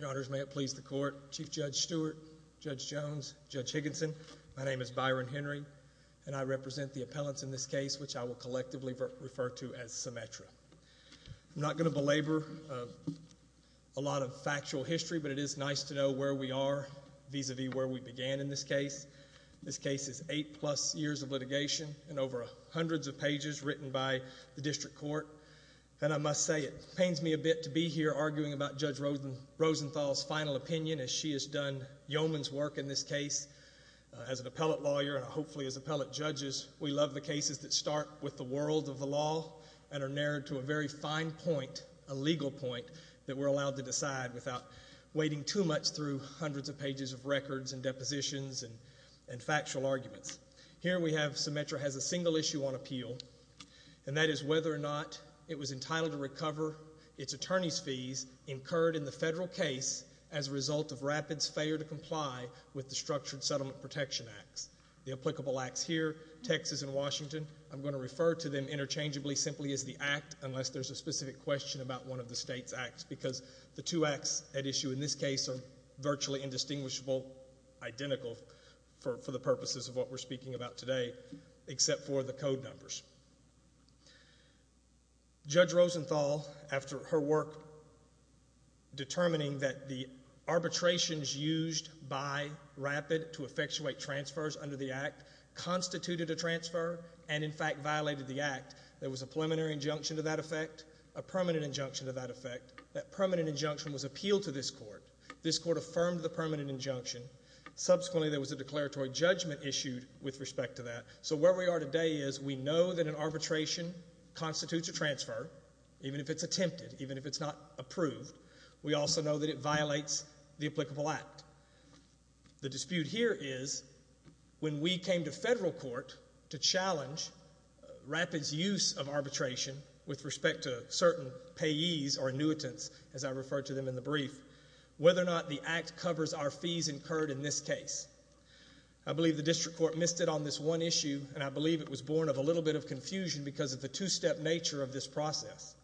Your honors, may it please the court. Chief Judge Stewart, Judge Jones, Judge Higginson, my name is Byron Henry, and I represent the appellants in this case, which I will collectively refer to as Symmetra. I'm not going to belabor a lot of factual history, but it is nice to know where we are vis-a-vis where we began in this case. This case is eight-plus years of litigation and over hundreds of pages written by the district court, and I must say it pains me a bit to be here arguing about Judge Rosenthal's final opinion as she has done yeoman's work in this case. As an appellant lawyer and hopefully as appellant judges, we love the cases that start with the world of the law and are narrowed to a very fine point, a legal point, that we're allowed to decide without wading too much through hundreds of pages of records and depositions and factual arguments. Here we have Symmetra has a single issue on appeal, and that is whether or not it was entitled to recover its attorney's fees incurred in the federal case as a result of RAPID's failure to comply with the Structured Settlement Protection Acts. The applicable acts here, Texas and Washington, I'm going to refer to them interchangeably simply as the act unless there's a specific question about one of the state's acts because the two acts at issue in this case are virtually indistinguishable, identical for the purposes of what we're speaking about today except for the code numbers. Judge Rosenthal, after her work determining that the arbitrations used by RAPID to effectuate transfers under the act constituted a transfer and in fact violated the act, there was a preliminary injunction to that effect, a permanent injunction to that effect. That permanent injunction was appealed to this court. This court affirmed the permanent injunction. Subsequently, there was a declaratory judgment issued with respect to that. So where we are today is we know that an arbitration constitutes a transfer even if it's attempted, even if it's not approved. We also know that it violates the applicable act. The dispute here is when we came to federal court to challenge RAPID's use of arbitration with respect to certain payees or annuitants, as I referred to them in the brief, whether or not the act covers our fees incurred in this case. I believe the district court missed it on this one issue and I believe it was born of a little bit of confusion because of the two-step nature of this process.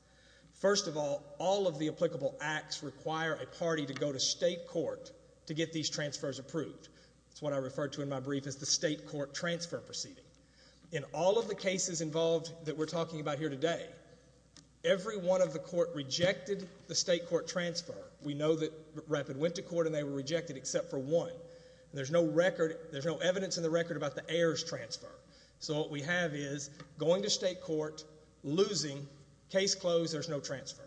First of all, all of the applicable acts require a party to go to state court to get these transfers approved. That's what I referred to in my brief as the state court transfer proceeding. In all of the cases involved that we're talking about here today, every one of the court rejected the state court transfer. We know that RAPID went to court and they were rejected except for one. There's no record, there's no evidence in the record about the heirs transfer. What we have is going to state court, losing, case closed, there's no transfer.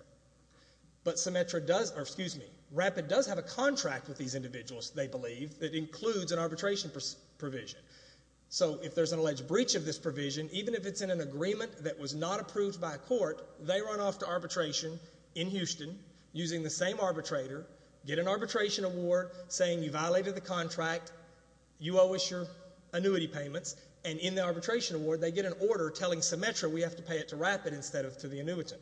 RAPID does have a contract with these individuals, they believe, that includes an arbitration provision. If there's an alleged breach of this provision, even if it's in an agreement that was not approved by court, they run off to arbitration in Houston using the same arbitrator, get an arbitration award saying you violated the contract, you owe us your annuity payments, and in the arbitration award they get an order telling Symetra we have to pay it to RAPID instead of to the annuitant.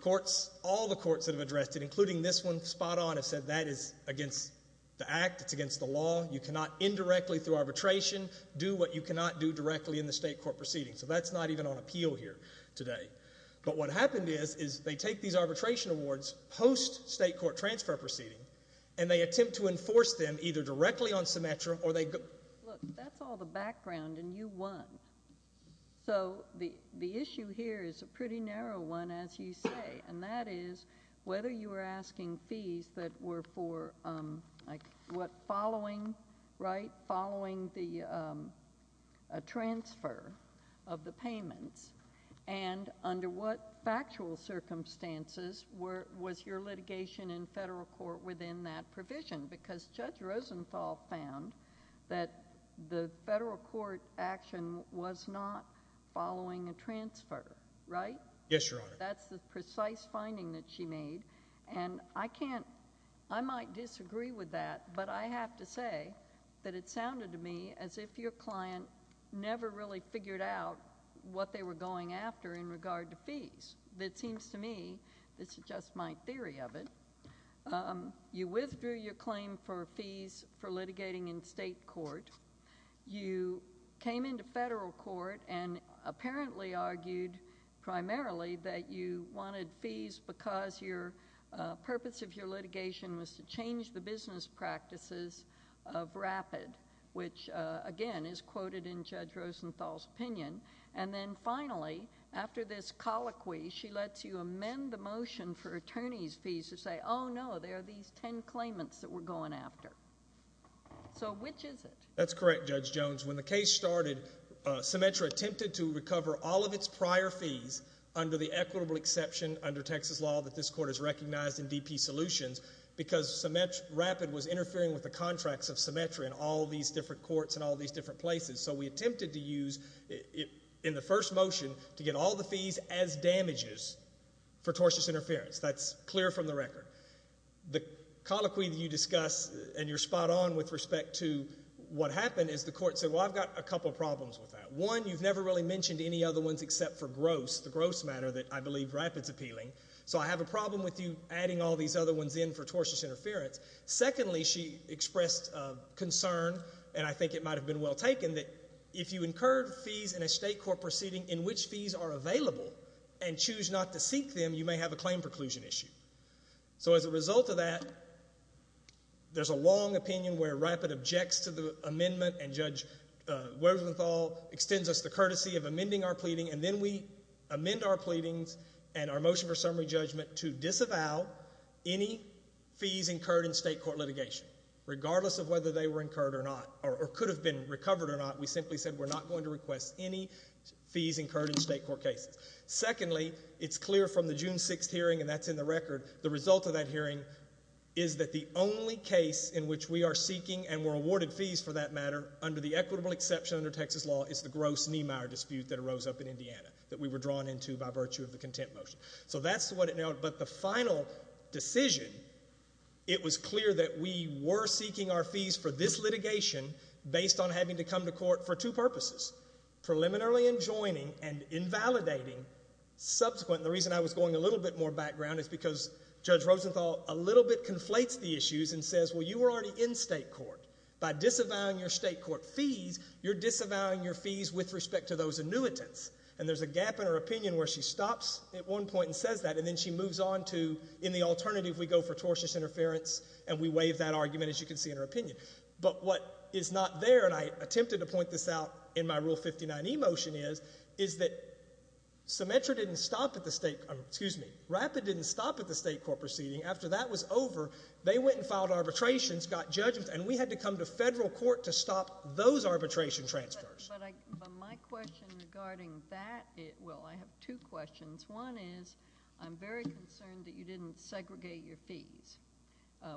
Courts, all the courts that have addressed it, including this one spot on, have said that is against the act, it's against the law, you cannot indirectly through arbitration do what you cannot do directly in the state court proceeding. So that's not even on appeal here today. But what happened is they take these arbitration awards post state court transfer proceeding and they attempt to enforce them either directly on Symetra or they go. I'm just wondering, under what factual circumstances was your litigation in federal court within that provision? Because Judge Rosenthal found that the federal court action was not following a transfer, right? That's the precise finding that she made. And I might disagree with that, but I have to say that it sounded to me as if your client never really figured out what they were going after in regard to fees. It seems to me, this is just my theory of it, you withdrew your claim for fees for litigating in state court, you came into federal court and apparently argued primarily that you wanted fees because your purpose of your litigation was to change the business practices of RAPID, which again is quoted in Judge Rosenthal's opinion. And then finally, after this colloquy, she lets you amend the motion for attorney's fees to say, oh no, there are these ten claimants that we're going after. So which is it? That's correct, Judge Jones. When the case started, Symetra attempted to recover all of its prior fees under the equitable exception under Texas law that this court has recognized in DP Solutions because RAPID was interfering with the contracts of Symetra in all these different courts and all these different places. So we attempted to use, in the first motion, to get all the fees as damages for tortious interference. That's clear from the record. The colloquy that you discuss, and you're spot on with respect to what happened, is the court said, well, I've got a couple problems with that. One, you've never really mentioned any other ones except for gross, the gross matter that I believe RAPID's appealing. So I have a problem with you adding all these other ones in for tortious interference. Secondly, she expressed concern, and I think it might have been well taken, that if you incurred fees in a state court proceeding in which fees are available and choose not to seek them, you may have a claim preclusion issue. So as a result of that, there's a long opinion where RAPID objects to the amendment and Judge Webersmithall extends us the courtesy of amending our pleading, and then we amend our pleadings and our motion for summary judgment to disavow any fees incurred in state court litigation. Regardless of whether they were incurred or not, or could have been recovered or not, we simply said we're not going to request any fees incurred in state court cases. Secondly, it's clear from the June 6th hearing, and that's in the record, the result of that hearing is that the only case in which we are seeking and were awarded fees for that matter, under the equitable exception under Texas law, is the gross Niemeyer dispute that arose up in Indiana, that we were drawn into by virtue of the contempt motion. So that's what it now, but the final decision, it was clear that we were seeking our fees for this litigation based on having to come to court for two purposes, preliminarily enjoining and invalidating. Subsequent, the reason I was going a little bit more background is because Judge Rosenthal a little bit conflates the issues and says, well, you were already in state court. By disavowing your state court fees, you're disavowing your fees with respect to those annuitants. And there's a gap in her opinion where she stops at one point and says that, and then she moves on to, in the alternative, we go for tortious interference, and we waive that argument, as you can see in her opinion. But what is not there, and I attempted to point this out in my Rule 59e motion is, is that Symetra didn't stop at the state, excuse me, RAPID didn't stop at the state court proceeding. After that was over, they went and filed arbitrations, got judgments, and we had to come to federal court to stop those arbitration transfers. But my question regarding that, well, I have two questions. One is, I'm very concerned that you didn't segregate your fees,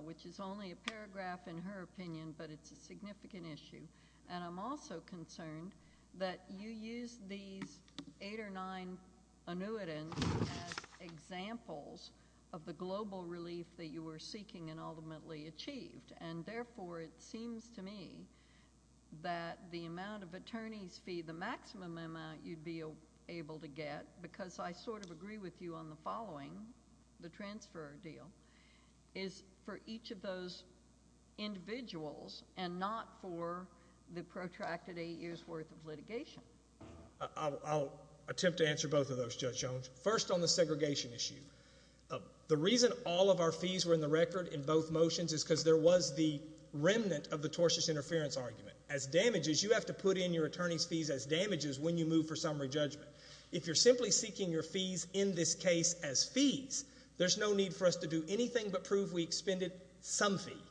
which is only a paragraph in her opinion, but it's a significant issue. And I'm also concerned that you used these eight or nine annuitants as examples of the global relief that you were seeking and ultimately achieved. And therefore, it seems to me that the amount of attorneys fee, the maximum amount you'd be able to get, because I sort of agree with you on the following, the transfer deal, is for each of those individuals and not for the protracted eight years' worth of litigation. I'll attempt to answer both of those, Judge Jones. First, on the segregation issue. The reason all of our fees were in the record in both motions is because there was the remnant of the tortious interference argument. As damages, you have to put in your attorney's fees as damages when you move for summary judgment. If you're simply seeking your fees in this case as fees, there's no need for us to do anything but prove we expended some fee,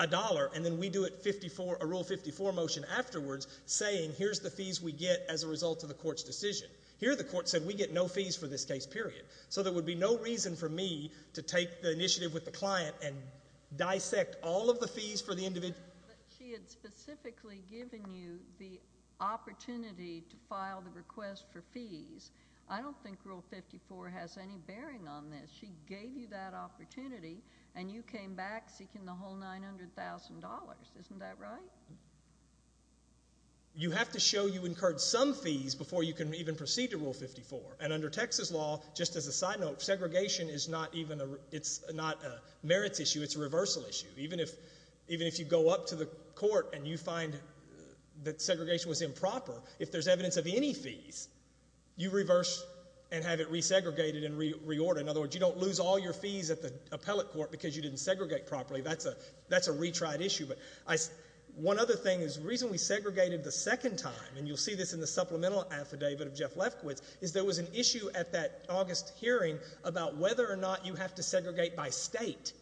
a dollar, and then we do a Rule 54 motion afterwards saying here's the fees we get as a result of the court's decision. Here the court said we get no fees for this case, period. So there would be no reason for me to take the initiative with the client and dissect all of the fees for the individual. But she had specifically given you the opportunity to file the request for fees. I don't think Rule 54 has any bearing on this. She gave you that opportunity, and you came back seeking the whole $900,000. Isn't that right? You have to show you incurred some fees before you can even proceed to Rule 54. And under Texas law, just as a side note, segregation is not a merits issue. It's a reversal issue. Even if you go up to the court and you find that segregation was improper, if there's evidence of any fees, you reverse and have it resegregated and reordered. In other words, you don't lose all your fees at the appellate court because you didn't segregate properly. That's a retried issue. But one other thing is the reason we segregated the second time, and you'll see this in the supplemental affidavit of Jeff Lefkowitz, is there was an issue at that August hearing about whether or not you have to segregate by state.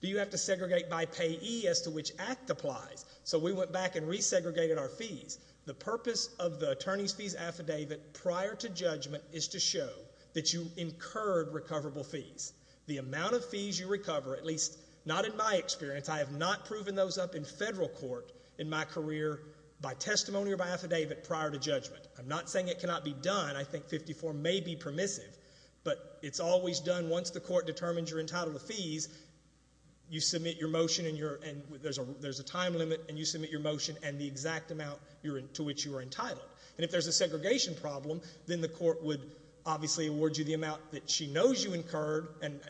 Do you have to segregate by payee as to which act applies? So we went back and resegregated our fees. The purpose of the attorney's fees affidavit prior to judgment is to show that you incurred recoverable fees. The amount of fees you recover, at least not in my experience. I have not proven those up in federal court in my career by testimony or by affidavit prior to judgment. I'm not saying it cannot be done. I think 54 may be permissive. But it's always done once the court determines you're entitled to fees. You submit your motion, and there's a time limit, and you submit your motion and the exact amount to which you are entitled. And if there's a segregation problem, then the court would obviously award you the amount that she knows you incurred. And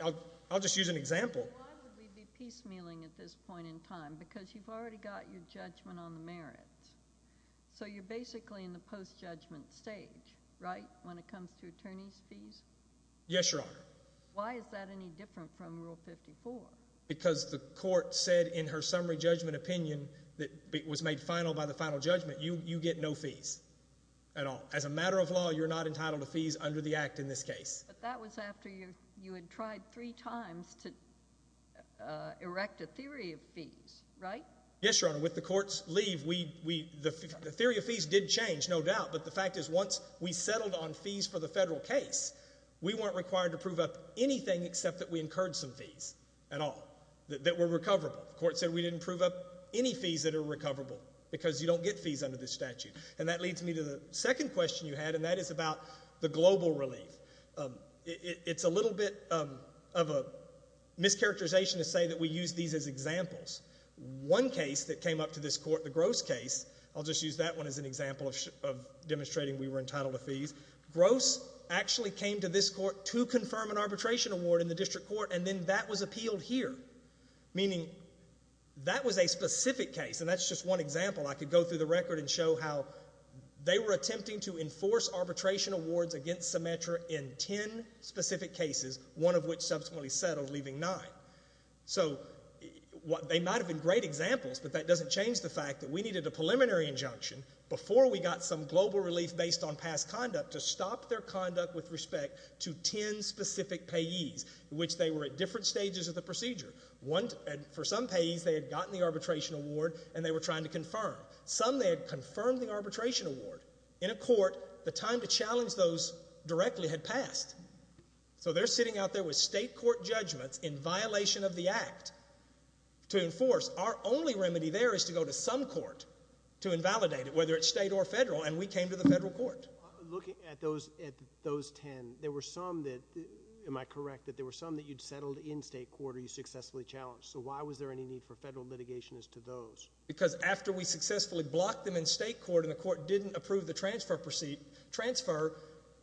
I'll just use an example. Why would we be piecemealing at this point in time? Because you've already got your judgment on the merits. So you're basically in the post-judgment stage, right, when it comes to attorney's fees? Yes, Your Honor. Why is that any different from Rule 54? Because the court said in her summary judgment opinion that it was made final by the final judgment. You get no fees at all. As a matter of law, you're not entitled to fees under the Act in this case. But that was after you had tried three times to erect a theory of fees, right? Yes, Your Honor. With the court's leave, the theory of fees did change, no doubt. But the fact is once we settled on fees for the federal case, we weren't required to prove up anything except that we incurred some fees at all that were recoverable. The court said we didn't prove up any fees that are recoverable because you don't get fees under this statute. And that leads me to the second question you had, and that is about the global relief. It's a little bit of a mischaracterization to say that we use these as examples. One case that came up to this court, the Gross case, I'll just use that one as an example of demonstrating we were entitled to fees. Gross actually came to this court to confirm an arbitration award in the district court, and then that was appealed here, meaning that was a specific case. And that's just one example. I could go through the record and show how they were attempting to enforce arbitration awards against Symetra in ten specific cases, one of which subsequently settled, leaving nine. So they might have been great examples, but that doesn't change the fact that we needed a preliminary injunction before we got some global relief based on past conduct to stop their conduct with respect to ten specific payees, which they were at different stages of the procedure. For some payees, they had gotten the arbitration award, and they were trying to confirm. Some, they had confirmed the arbitration award. In a court, the time to challenge those directly had passed. So they're sitting out there with state court judgments in violation of the act to enforce. Our only remedy there is to go to some court to invalidate it, whether it's state or federal, and we came to the federal court. Looking at those ten, there were some that, am I correct, that there were some that you'd settled in state court or you successfully challenged. So why was there any need for federal litigation as to those? Because after we successfully blocked them in state court and the court didn't approve the transfer,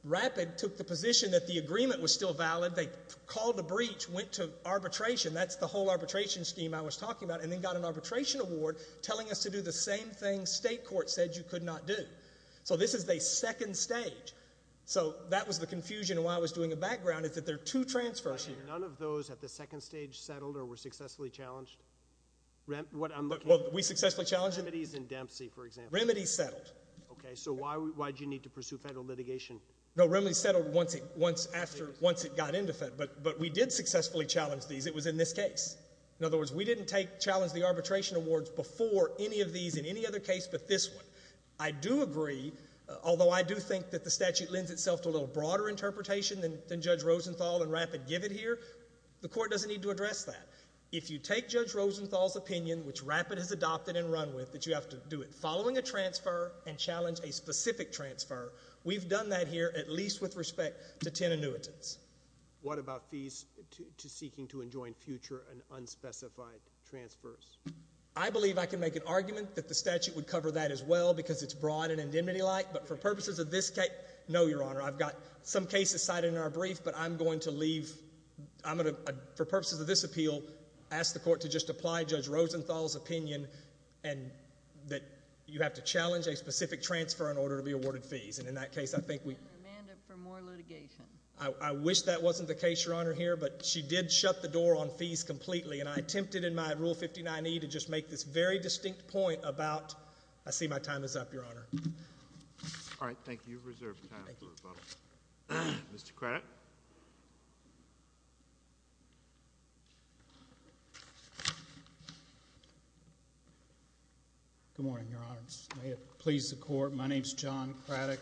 Rapid took the position that the agreement was still valid. They called a breach, went to arbitration. That's the whole arbitration scheme I was talking about, and then got an arbitration award telling us to do the same thing state court said you could not do. So this is a second stage. So that was the confusion and why I was doing a background is that there are two transfers here. None of those at the second stage settled or were successfully challenged? Well, we successfully challenged them. Remedies in Dempsey, for example. Remedies settled. Okay, so why did you need to pursue federal litigation? No, remedies settled once it got into federal. But we did successfully challenge these. It was in this case. In other words, we didn't challenge the arbitration awards before any of these in any other case but this one. I do agree, although I do think that the statute lends itself to a little broader interpretation than Judge Rosenthal and Rapid give it here. The court doesn't need to address that. If you take Judge Rosenthal's opinion, which Rapid has adopted and run with, that you have to do it following a transfer and challenge a specific transfer, we've done that here at least with respect to 10 annuitants. What about fees to seeking to enjoin future and unspecified transfers? I believe I can make an argument that the statute would cover that as well because it's broad and indemnity-like. No, Your Honor. I've got some cases cited in our brief, but I'm going to leave. I'm going to, for purposes of this appeal, ask the court to just apply Judge Rosenthal's opinion and that you have to challenge a specific transfer in order to be awarded fees. And in that case, I think we— And demand it for more litigation. I wish that wasn't the case, Your Honor, here, but she did shut the door on fees completely. And I attempted in my Rule 59e to just make this very distinct point about—I see my time is up, Your Honor. All right. Thank you. You're reserved time for rebuttal. Mr. Craddock. Good morning, Your Honors. May it please the Court, my name is John Craddock,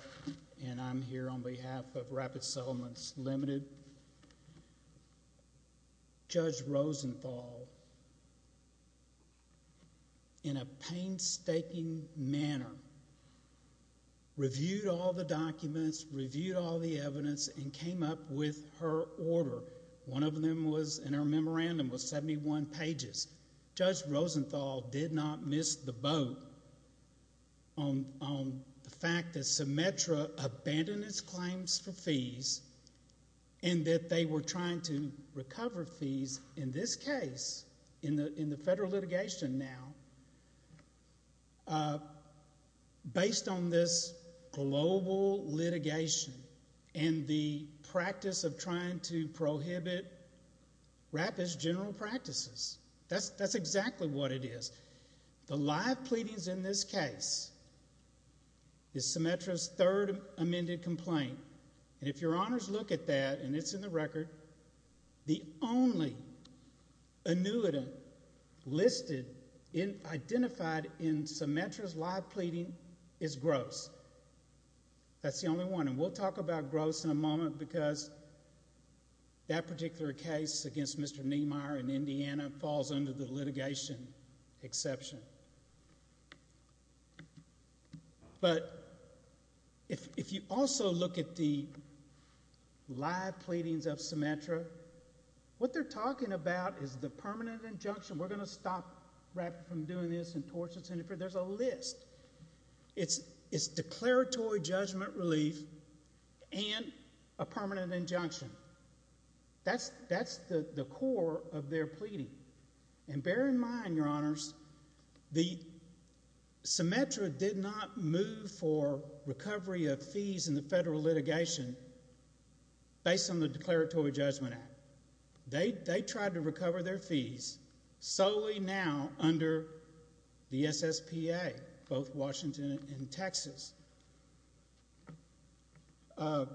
and I'm here on behalf of Rapid Settlements Limited. Judge Rosenthal, in a painstaking manner, reviewed all the documents, reviewed all the evidence, and came up with her order. One of them was in her memorandum was 71 pages. Judge Rosenthal did not miss the boat on the fact that Symetra abandoned its claims for fees and that they were trying to recover fees in this case, in the federal litigation now, based on this global litigation and the practice of trying to prohibit rapid general practices. That's exactly what it is. The live pleadings in this case is Symetra's third amended complaint. And if Your Honors look at that, and it's in the record, the only annuitant listed and identified in Symetra's live pleading is Gross. That's the only one. And we'll talk about Gross in a moment because that particular case against Mr. Niemeyer in Indiana falls under the litigation exception. But if you also look at the live pleadings of Symetra, what they're talking about is the permanent injunction. We're going to stop Rapid from doing this and torture and interfere. There's a list. It's declaratory judgment relief and a permanent injunction. That's the core of their pleading. And bear in mind, Your Honors, Symetra did not move for recovery of fees in the federal litigation based on the declaratory judgment act. They tried to recover their fees solely now under the SSPA, both Washington and Texas. And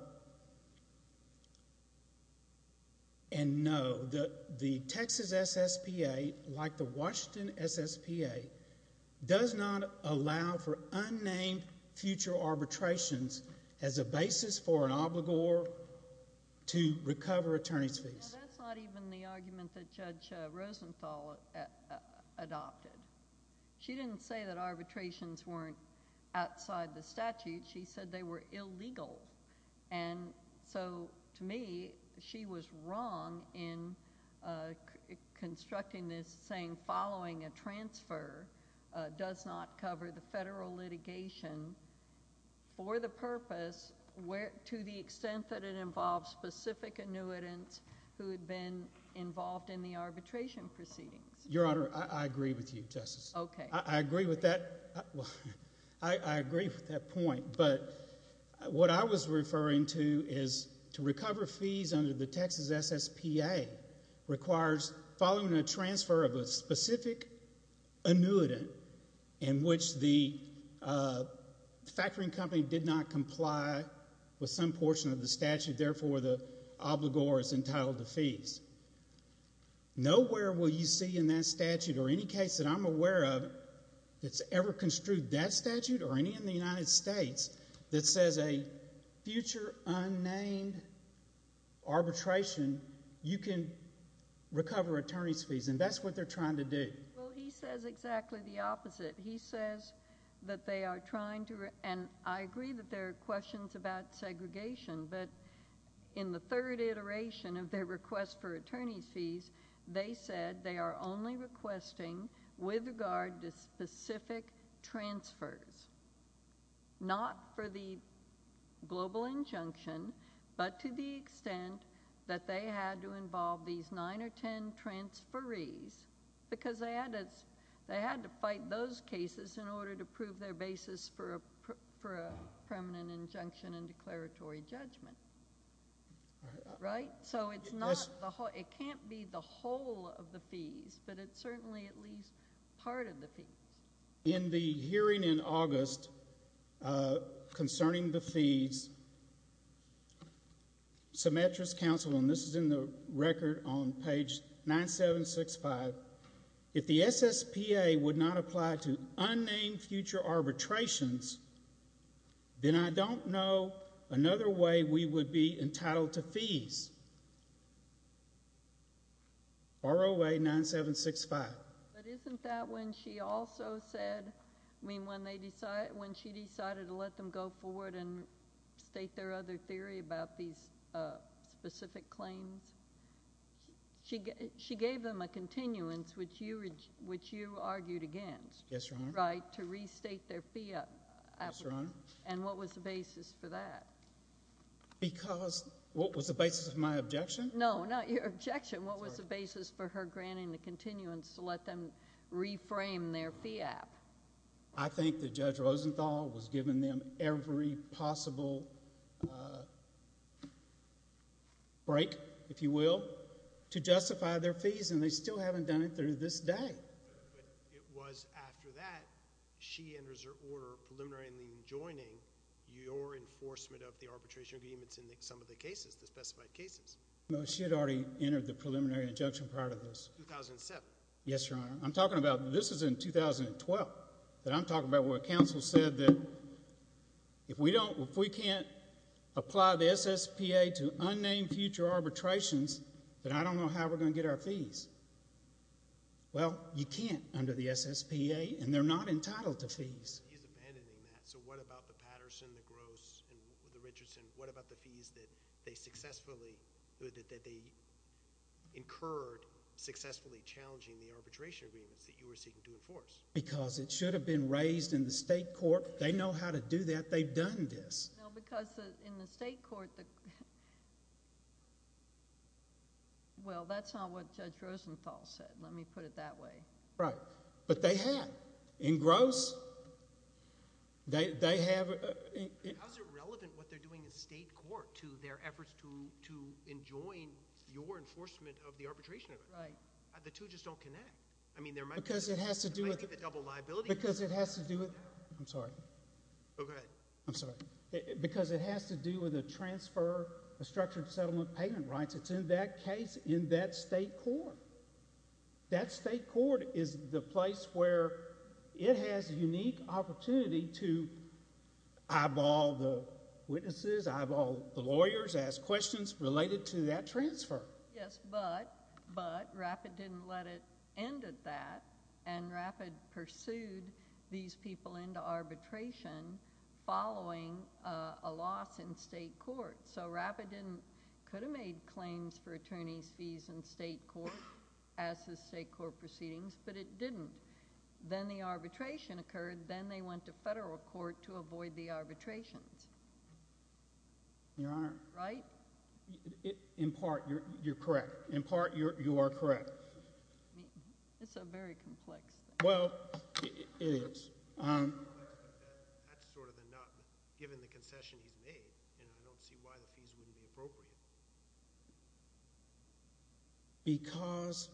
no, the Texas SSPA, like the Washington SSPA, does not allow for unnamed future arbitrations as a basis for an obligor to recover attorney's fees. That's not even the argument that Judge Rosenthal adopted. She didn't say that arbitrations weren't outside the statute. She said they were illegal. And so to me, she was wrong in constructing this saying following a transfer does not cover the federal litigation for the purpose to the extent that it involves specific annuitants who had been involved in the arbitration proceedings. Your Honor, I agree with you, Justice. Okay. I agree with that. I agree with that point. But what I was referring to is to recover fees under the Texas SSPA requires following a transfer of a specific annuitant in which the factoring company did not comply with some portion of the statute, therefore the obligor is entitled to fees. Nowhere will you see in that statute or any case that I'm aware of that's ever construed that statute or any in the United States that says a future unnamed arbitration, you can recover attorney's fees. And that's what they're trying to do. Well, he says exactly the opposite. He says that they are trying to, and I agree that there are questions about segregation, but in the third iteration of their request for attorney's fees, they said they are only requesting with regard to specific transfers. Not for the global injunction, but to the extent that they had to involve these nine or ten transferees because they had to fight those cases in order to prove their basis for a permanent injunction and declaratory judgment. Right? So it can't be the whole of the fees, but it's certainly at least part of the fees. In the hearing in August concerning the fees, Symmetra's counsel, and this is in the record on page 9765, if the SSPA would not apply to unnamed future arbitrations, then I don't know another way we would be entitled to fees. ROA 9765. But isn't that when she also said, I mean, when she decided to let them go forward and state their other theory about these specific claims, she gave them a continuance, which you argued against. Yes, Your Honor. Right? To restate their fee application. Yes, Your Honor. And what was the basis for that? Because, what was the basis of my objection? No, not your objection. Sorry. What was the basis for her granting the continuance to let them reframe their fee app? I think that Judge Rosenthal was giving them every possible break, if you will, to justify their fees, and they still haven't done it to this day. But it was after that she enters her order preliminary in joining your enforcement of the arbitration agreements in some of the cases, the specified cases. No, she had already entered the preliminary injunction prior to this. 2007. Yes, Your Honor. I'm talking about, this is in 2012, that I'm talking about where counsel said that if we don't, if we can't apply the SSPA to unnamed future arbitrations, then I don't know how we're going to get our fees. Well, you can't under the SSPA, and they're not entitled to fees. He's abandoning that. So what about the Patterson, the Gross, and the Richardson? What about the fees that they successfully, that they incurred successfully challenging the arbitration agreements that you were seeking to enforce? Because it should have been raised in the state court. They know how to do that. They've done this. No, because in the state court, well, that's not what Judge Rosenthal said. Let me put it that way. Right. But they have. In Gross, they have... How is it relevant what they're doing in state court to their efforts to enjoin your enforcement of the arbitration agreement? Right. The two just don't connect. I mean, there might be... Because it has to do with... It might be the double liability... Because it has to do with... I'm sorry. Go ahead. I'm sorry. Because it has to do with a transfer, a structured settlement payment rights. It's in that case, in that state court. That state court is the place where it has unique opportunity to eyeball the witnesses, eyeball the lawyers, ask questions related to that transfer. Yes, but RAPID didn't let it end at that, and RAPID pursued these people into arbitration following a loss in state court. So RAPID didn't... could have made claims for attorney's fees in state court as the state court proceedings, but it didn't. Then the arbitration occurred. Then they went to federal court to avoid the arbitrations. Your Honor... Right? In part, you're correct. In part, you are correct. It's a very complex thing. Well, it is. That's sort of the nut, given the concession he's made, and I don't see why the fees wouldn't be appropriate. Because...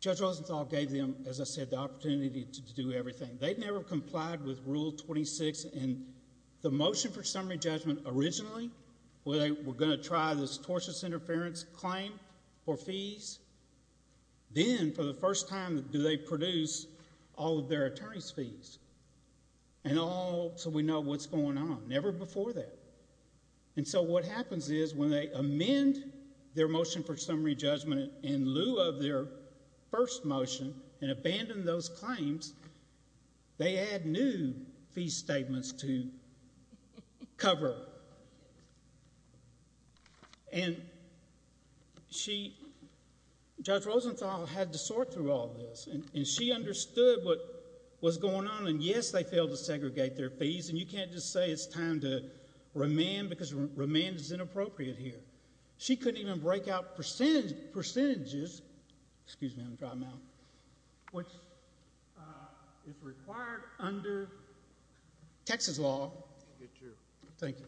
Judge Rosenthal gave them, as I said, the opportunity to do everything. They've never complied with Rule 26, and the motion for summary judgment originally, where they were going to try this tortious interference claim for fees, then, for the first time, do they produce all of their attorney's fees. And all so we know what's going on. Never before that. And so what happens is, when they amend their motion for summary judgment in lieu of their first motion and abandon those claims, they add new fee statements to cover. And she... Judge Rosenthal had to sort through all of this. And she understood what was going on. And, yes, they failed to segregate their fees. And you can't just say it's time to remand, because remand is inappropriate here. She couldn't even break out percentages, which is required under Texas law. Thank you.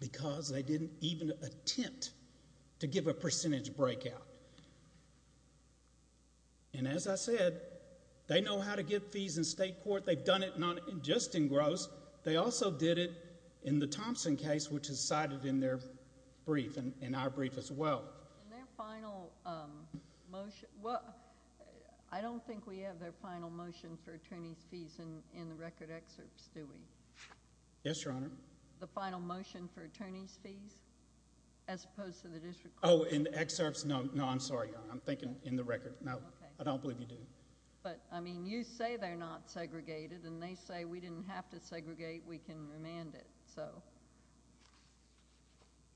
Because they didn't even attempt to give a percentage breakout. And, as I said, they know how to give fees in state court. They've done it just in gross. They also did it in the Thompson case, which is cited in their brief and in our brief as well. In their final motion... Well, I don't think we have their final motion for attorney's fees in the record excerpts, do we? Yes, Your Honor. The final motion for attorney's fees, as opposed to the district court? Oh, in the excerpts? No, I'm sorry, Your Honor. I'm thinking in the record. No, I don't believe you do. But, I mean, you say they're not segregated. And they say we didn't have to segregate. We can remand it.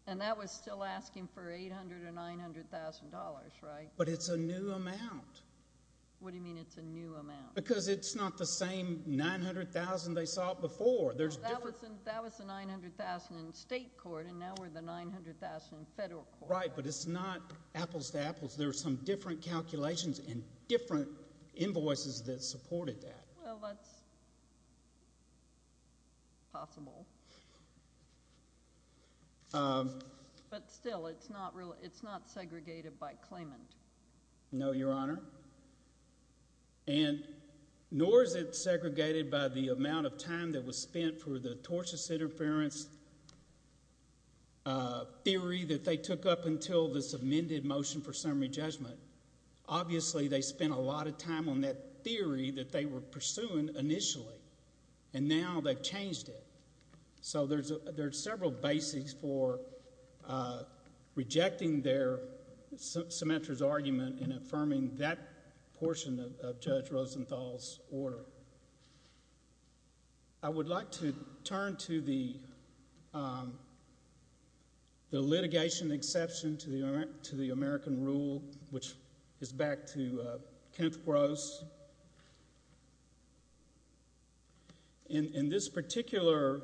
And that was still asking for $800,000 or $900,000, right? But it's a new amount. What do you mean it's a new amount? Because it's not the same $900,000 they saw before. That was the $900,000 in state court. And now we're the $900,000 in federal court. Right, but it's not apples to apples. There are some different calculations and different invoices that supported that. Well, that's possible. But still, it's not segregated by claimant. No, Your Honor. And nor is it segregated by the amount of time that was spent for the tortious interference theory that they took up until this amended motion for summary judgment. Obviously, they spent a lot of time on that theory that they were pursuing initially. And now they've changed it. So there's several basics for rejecting Symetra's argument and affirming that portion of Judge Rosenthal's order. I would like to turn to the litigation exception to the American rule, which is back to Kenneth Gross. In this particular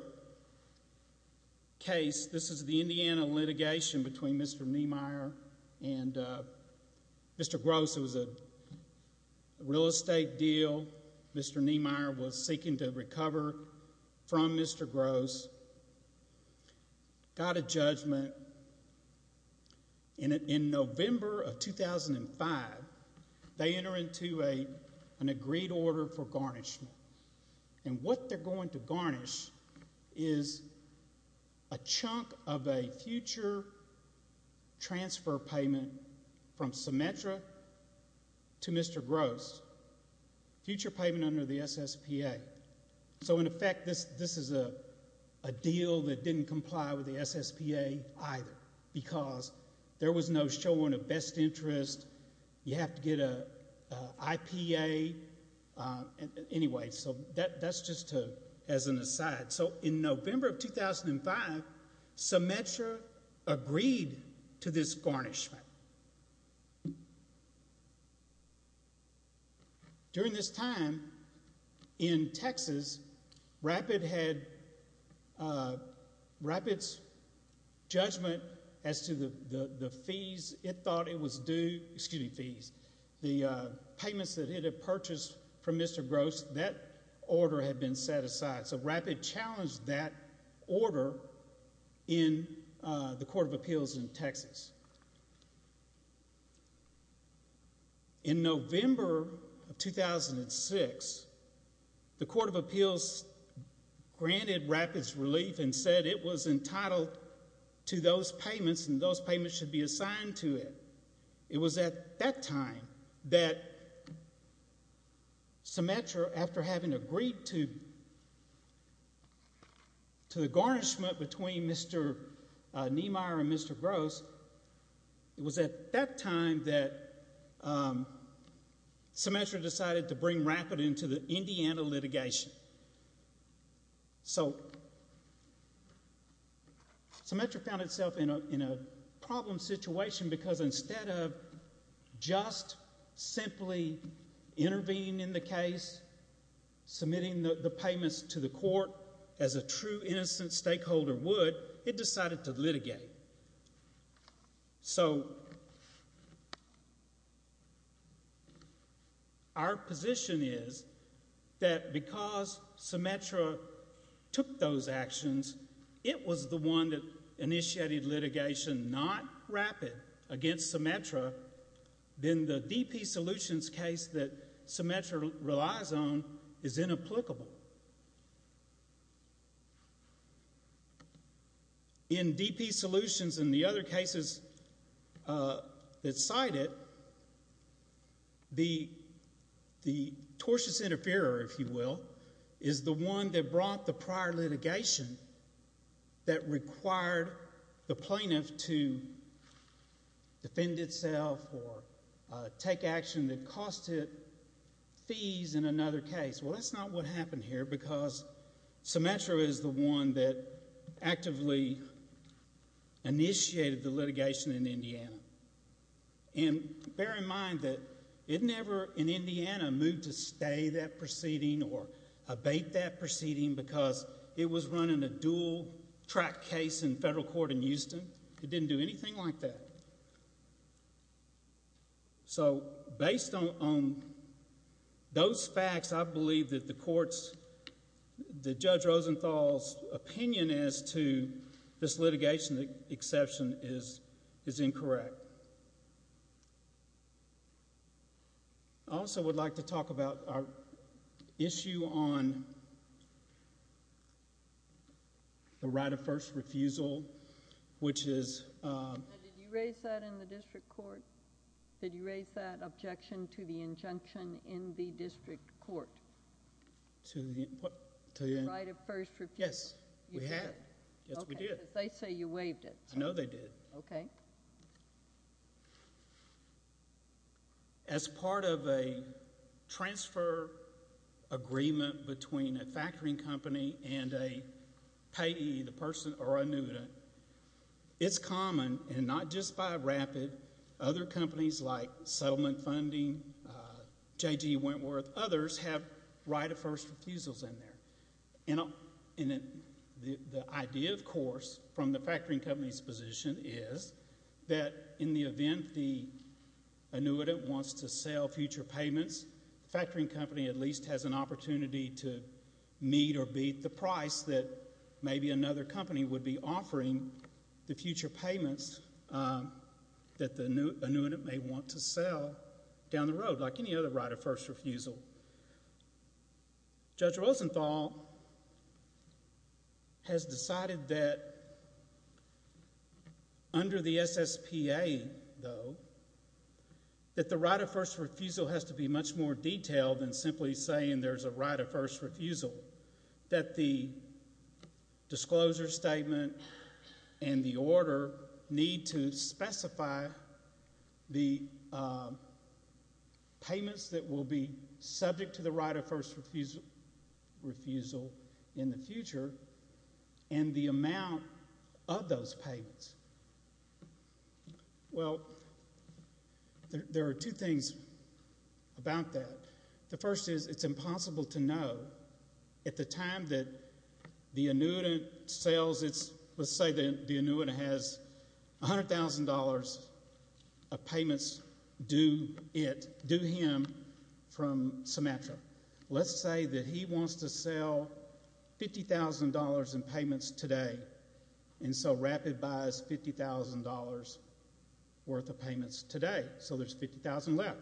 case, this is the Indiana litigation between Mr. Niemeyer and Mr. Gross. It was a real estate deal. Mr. Niemeyer was seeking to recover from Mr. Gross, got a judgment. In November of 2005, they enter into an agreed order for garnishment. And what they're going to garnish is a chunk of a future transfer payment from Symetra to Mr. Gross, future payment under the SSPA. So, in effect, this is a deal that didn't comply with the SSPA either because there was no showing of best interest. You have to get an IPA. Anyway, so that's just as an aside. So in November of 2005, Symetra agreed to this garnishment. During this time in Texas, Rapid's judgment as to the fees, it thought it was due, excuse me, fees, the payments that it had purchased from Mr. Gross, that order had been set aside. So Rapid challenged that order in the Court of Appeals in Texas. In November of 2006, the Court of Appeals granted Rapid's relief and said it was entitled to those payments and those payments should be assigned to it. It was at that time that Symetra, after having agreed to the garnishment between Mr. Niemeyer and Mr. Gross, it was at that time that Symetra decided to bring Rapid into the Indiana litigation. So Symetra found itself in a problem situation because instead of just simply intervening in the case, submitting the payments to the court as a true innocent stakeholder would, it decided to litigate. So our position is that because Symetra took those actions, it was the one that initiated litigation, not Rapid, against Symetra, then the DP Solutions case that Symetra relies on is inapplicable. In DP Solutions and the other cases that cite it, the tortious interferer, if you will, is the one that brought the prior litigation that required the plaintiff to defend itself or take action that cost it fees in another case. Well, that's not what happened here because Symetra is the one that actively initiated the litigation in Indiana. And bear in mind that it never in Indiana moved to stay that proceeding or abate that proceeding because it was running a dual-track case in federal court in Houston. It didn't do anything like that. So based on those facts, I believe that the court's, that Judge Rosenthal's opinion as to this litigation exception is incorrect. I also would like to talk about our issue on the right of first refusal, which is— Did you raise that in the district court? Did you raise that objection to the injunction in the district court? To the—what? The right of first refusal. Yes, we had. You had? Yes, we did. Because they say you waived it. I know they did. Okay. As part of a transfer agreement between a factoring company and a payee, the person or annuitant, it's common, and not just by a rapid, other companies like Settlement Funding, J.G. Wentworth, others have right of first refusals in there. And the idea, of course, from the factoring company's position is that in the event the annuitant wants to sell future payments, the factoring company at least has an opportunity to meet or beat the price that maybe another company would be offering the future payments that the annuitant may want to sell down the road, like any other right of first refusal. Judge Rosenthal has decided that under the SSPA, though, that the right of first refusal has to be much more detailed than simply saying there's a right of first refusal, that the disclosure statement and the order need to specify the payments that will be subject to the right of first refusal in the future and the amount of those payments. Well, there are two things about that. The first is it's impossible to know at the time that the annuitant sells its, let's say the annuitant has $100,000 of payments due him from Symmetra. Let's say that he wants to sell $50,000 in payments today, and so Rapid buys $50,000 worth of payments today, so there's $50,000 left.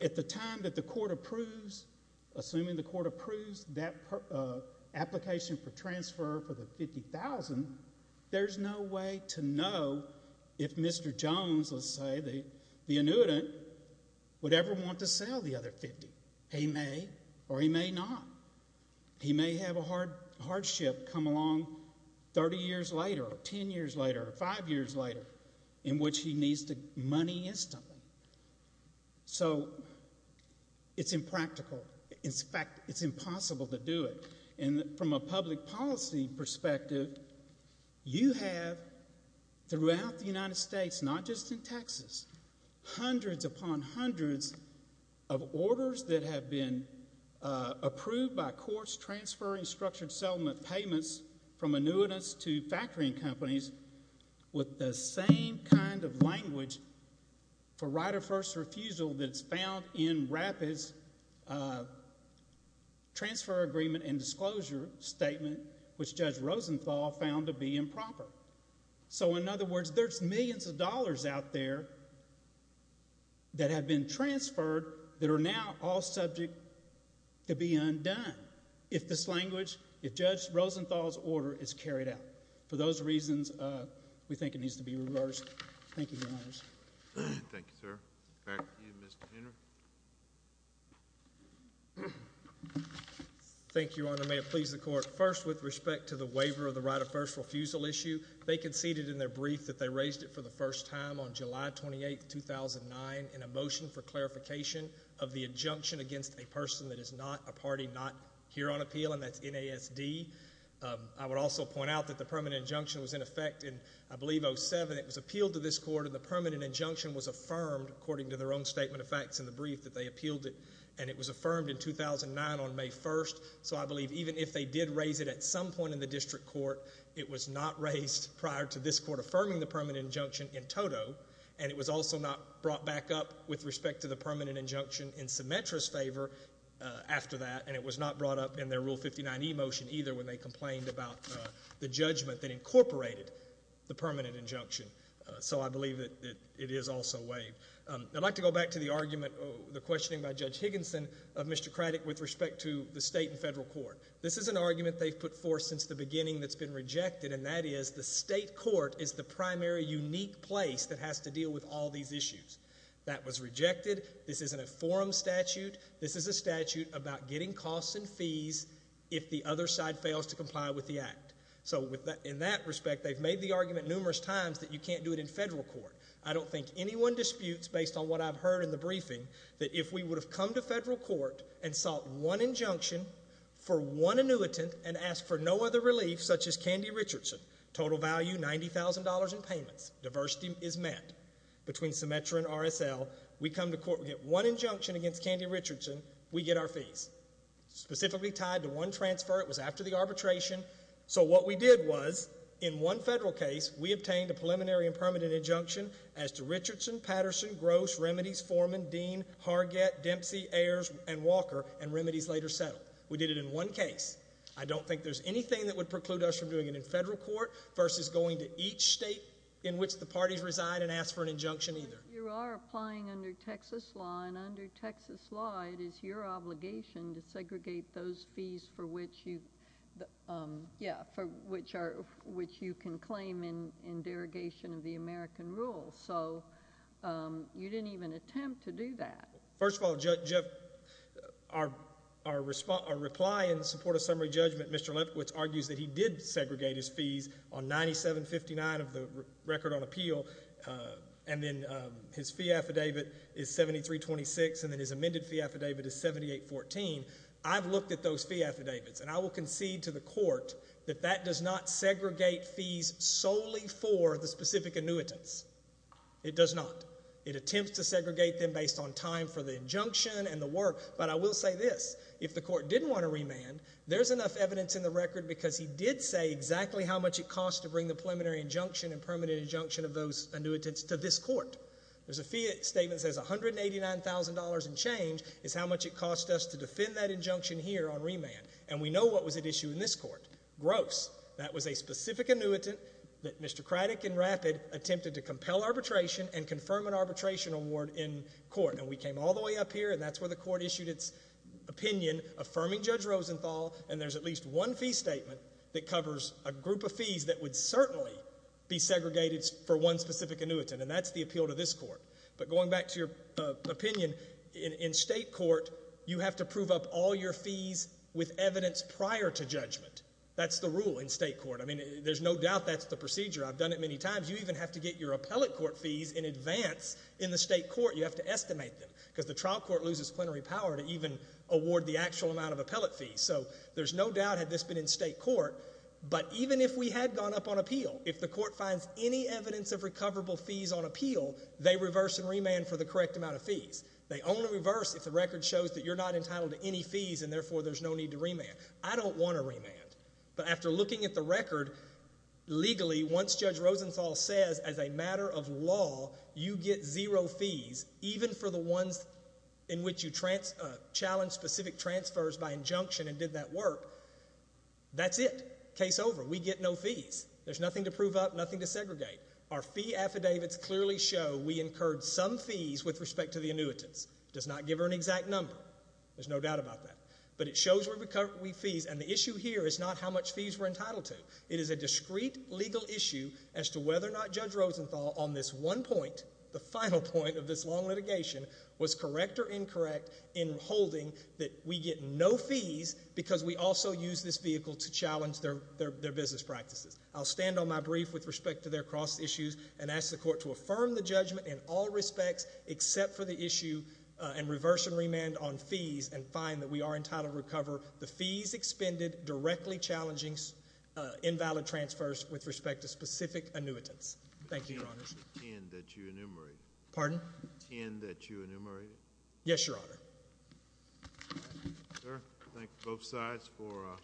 At the time that the court approves, assuming the court approves that application for transfer for the $50,000, there's no way to know if Mr. Jones, let's say, the annuitant, would ever want to sell the other $50,000. He may or he may not. He may have a hardship come along 30 years later or 10 years later or 5 years later in which he needs the money instantly. So it's impractical. In fact, it's impossible to do it. And from a public policy perspective, you have throughout the United States, not just in Texas, hundreds upon hundreds of orders that have been approved by courts transferring structured settlement payments from annuitants to factoring companies with the same kind of language for right of first refusal that's found in Rapid's transfer agreement and disclosure statement, which Judge Rosenthal found to be improper. So in other words, there's millions of dollars out there that have been transferred that are now all subject to be undone if this language, if Judge Rosenthal's order is carried out. For those reasons, we think it needs to be reversed. Thank you, Your Honors. Thank you, sir. Back to you, Mr. Hunter. Thank you, Your Honor. May it please the Court. First, with respect to the waiver of the right of first refusal issue, they conceded in their brief that they raised it for the first time on July 28, 2009, in a motion for clarification of the injunction against a person that is not a party not here on appeal, and that's NASD. I would also point out that the permanent injunction was in effect in, I believe, 07. It was appealed to this Court, and the permanent injunction was affirmed, according to their own statement of facts in the brief that they appealed it, and it was affirmed in 2009 on May 1st. So I believe even if they did raise it at some point in the district court, it was not raised prior to this Court affirming the permanent injunction in toto, and it was also not brought back up with respect to the permanent injunction in Symetra's favor after that, and it was not brought up in their Rule 59e motion either when they complained about the judgment that incorporated the permanent injunction. So I believe that it is also waived. I'd like to go back to the argument, the questioning by Judge Higginson of Mr. Craddick with respect to the state and federal court. This is an argument they've put forth since the beginning that's been rejected, and that is the state court is the primary unique place that has to deal with all these issues. That was rejected. This isn't a forum statute. This is a statute about getting costs and fees if the other side fails to comply with the act. So in that respect, they've made the argument numerous times that you can't do it in federal court. I don't think anyone disputes, based on what I've heard in the briefing, that if we would have come to federal court and sought one injunction for one annuitant and asked for no other relief such as Candy Richardson, total value $90,000 in payments, diversity is met between Symetra and RSL, we come to court, we get one injunction against Candy Richardson, we get our fees, specifically tied to one transfer. It was after the arbitration. So what we did was, in one federal case, we obtained a preliminary and permanent injunction as to Richardson, Patterson, Gross, Remedies, Foreman, Dean, Hargett, Dempsey, Ayers, and Walker, and Remedies later settled. We did it in one case. I don't think there's anything that would preclude us from doing it in federal court versus going to each state in which the parties reside and ask for an injunction either. You are applying under Texas law, and under Texas law, it is your obligation to segregate those fees for which you can claim in derogation of the American rule. So you didn't even attempt to do that. First of all, our reply in support of summary judgment, Mr. Lefkowitz argues that he did segregate his fees on 97-59 of the record on appeal, and then his fee affidavit is 73-26, and then his amended fee affidavit is 78-14. I've looked at those fee affidavits, and I will concede to the court that that does not segregate fees solely for the specific annuitants. It does not. It attempts to segregate them based on time for the injunction and the work, but I will say this. If the court didn't want to remand, there's enough evidence in the record because he did say exactly how much it cost to bring the preliminary injunction and permanent injunction of those annuitants to this court. There's a fee statement that says $189,000 and change is how much it cost us to defend that injunction here on remand, and we know what was at issue in this court. Gross. That was a specific annuitant that Mr. Craddick and Rapid attempted to compel arbitration and confirm an arbitration award in court, and we came all the way up here, and that's where the court issued its opinion, affirming Judge Rosenthal, and there's at least one fee statement that covers a group of fees that would certainly be segregated for one specific annuitant, and that's the appeal to this court. But going back to your opinion, in state court, you have to prove up all your fees with evidence prior to judgment. That's the rule in state court. I mean, there's no doubt that's the procedure. I've done it many times. You even have to get your appellate court fees in advance in the state court. You have to estimate them because the trial court loses plenary power to even award the actual amount of appellate fees. So there's no doubt had this been in state court, but even if we had gone up on appeal, if the court finds any evidence of recoverable fees on appeal, they reverse and remand for the correct amount of fees. They only reverse if the record shows that you're not entitled to any fees and therefore there's no need to remand. I don't want to remand. But after looking at the record, legally, once Judge Rosenthal says as a matter of law you get zero fees, even for the ones in which you challenge specific transfers by injunction and did that work, that's it. Case over. We get no fees. There's nothing to prove up, nothing to segregate. Our fee affidavits clearly show we incurred some fees with respect to the annuitants. It does not give her an exact number. There's no doubt about that. But it shows we recover fees, and the issue here is not how much fees we're entitled to. It is a discrete legal issue as to whether or not Judge Rosenthal on this one point, the final point of this long litigation, was correct or incorrect in holding that we get no fees because we also use this vehicle to challenge their business practices. I'll stand on my brief with respect to their cross issues and ask the court to affirm the judgment in all respects except for the issue and reverse and remand on fees and find that we are entitled to recover the fees expended directly challenging invalid transfers with respect to specific annuitants. Thank you, Your Honors. The 10 that you enumerated. Pardon? The 10 that you enumerated. Yes, Your Honor. Sir, thank both sides for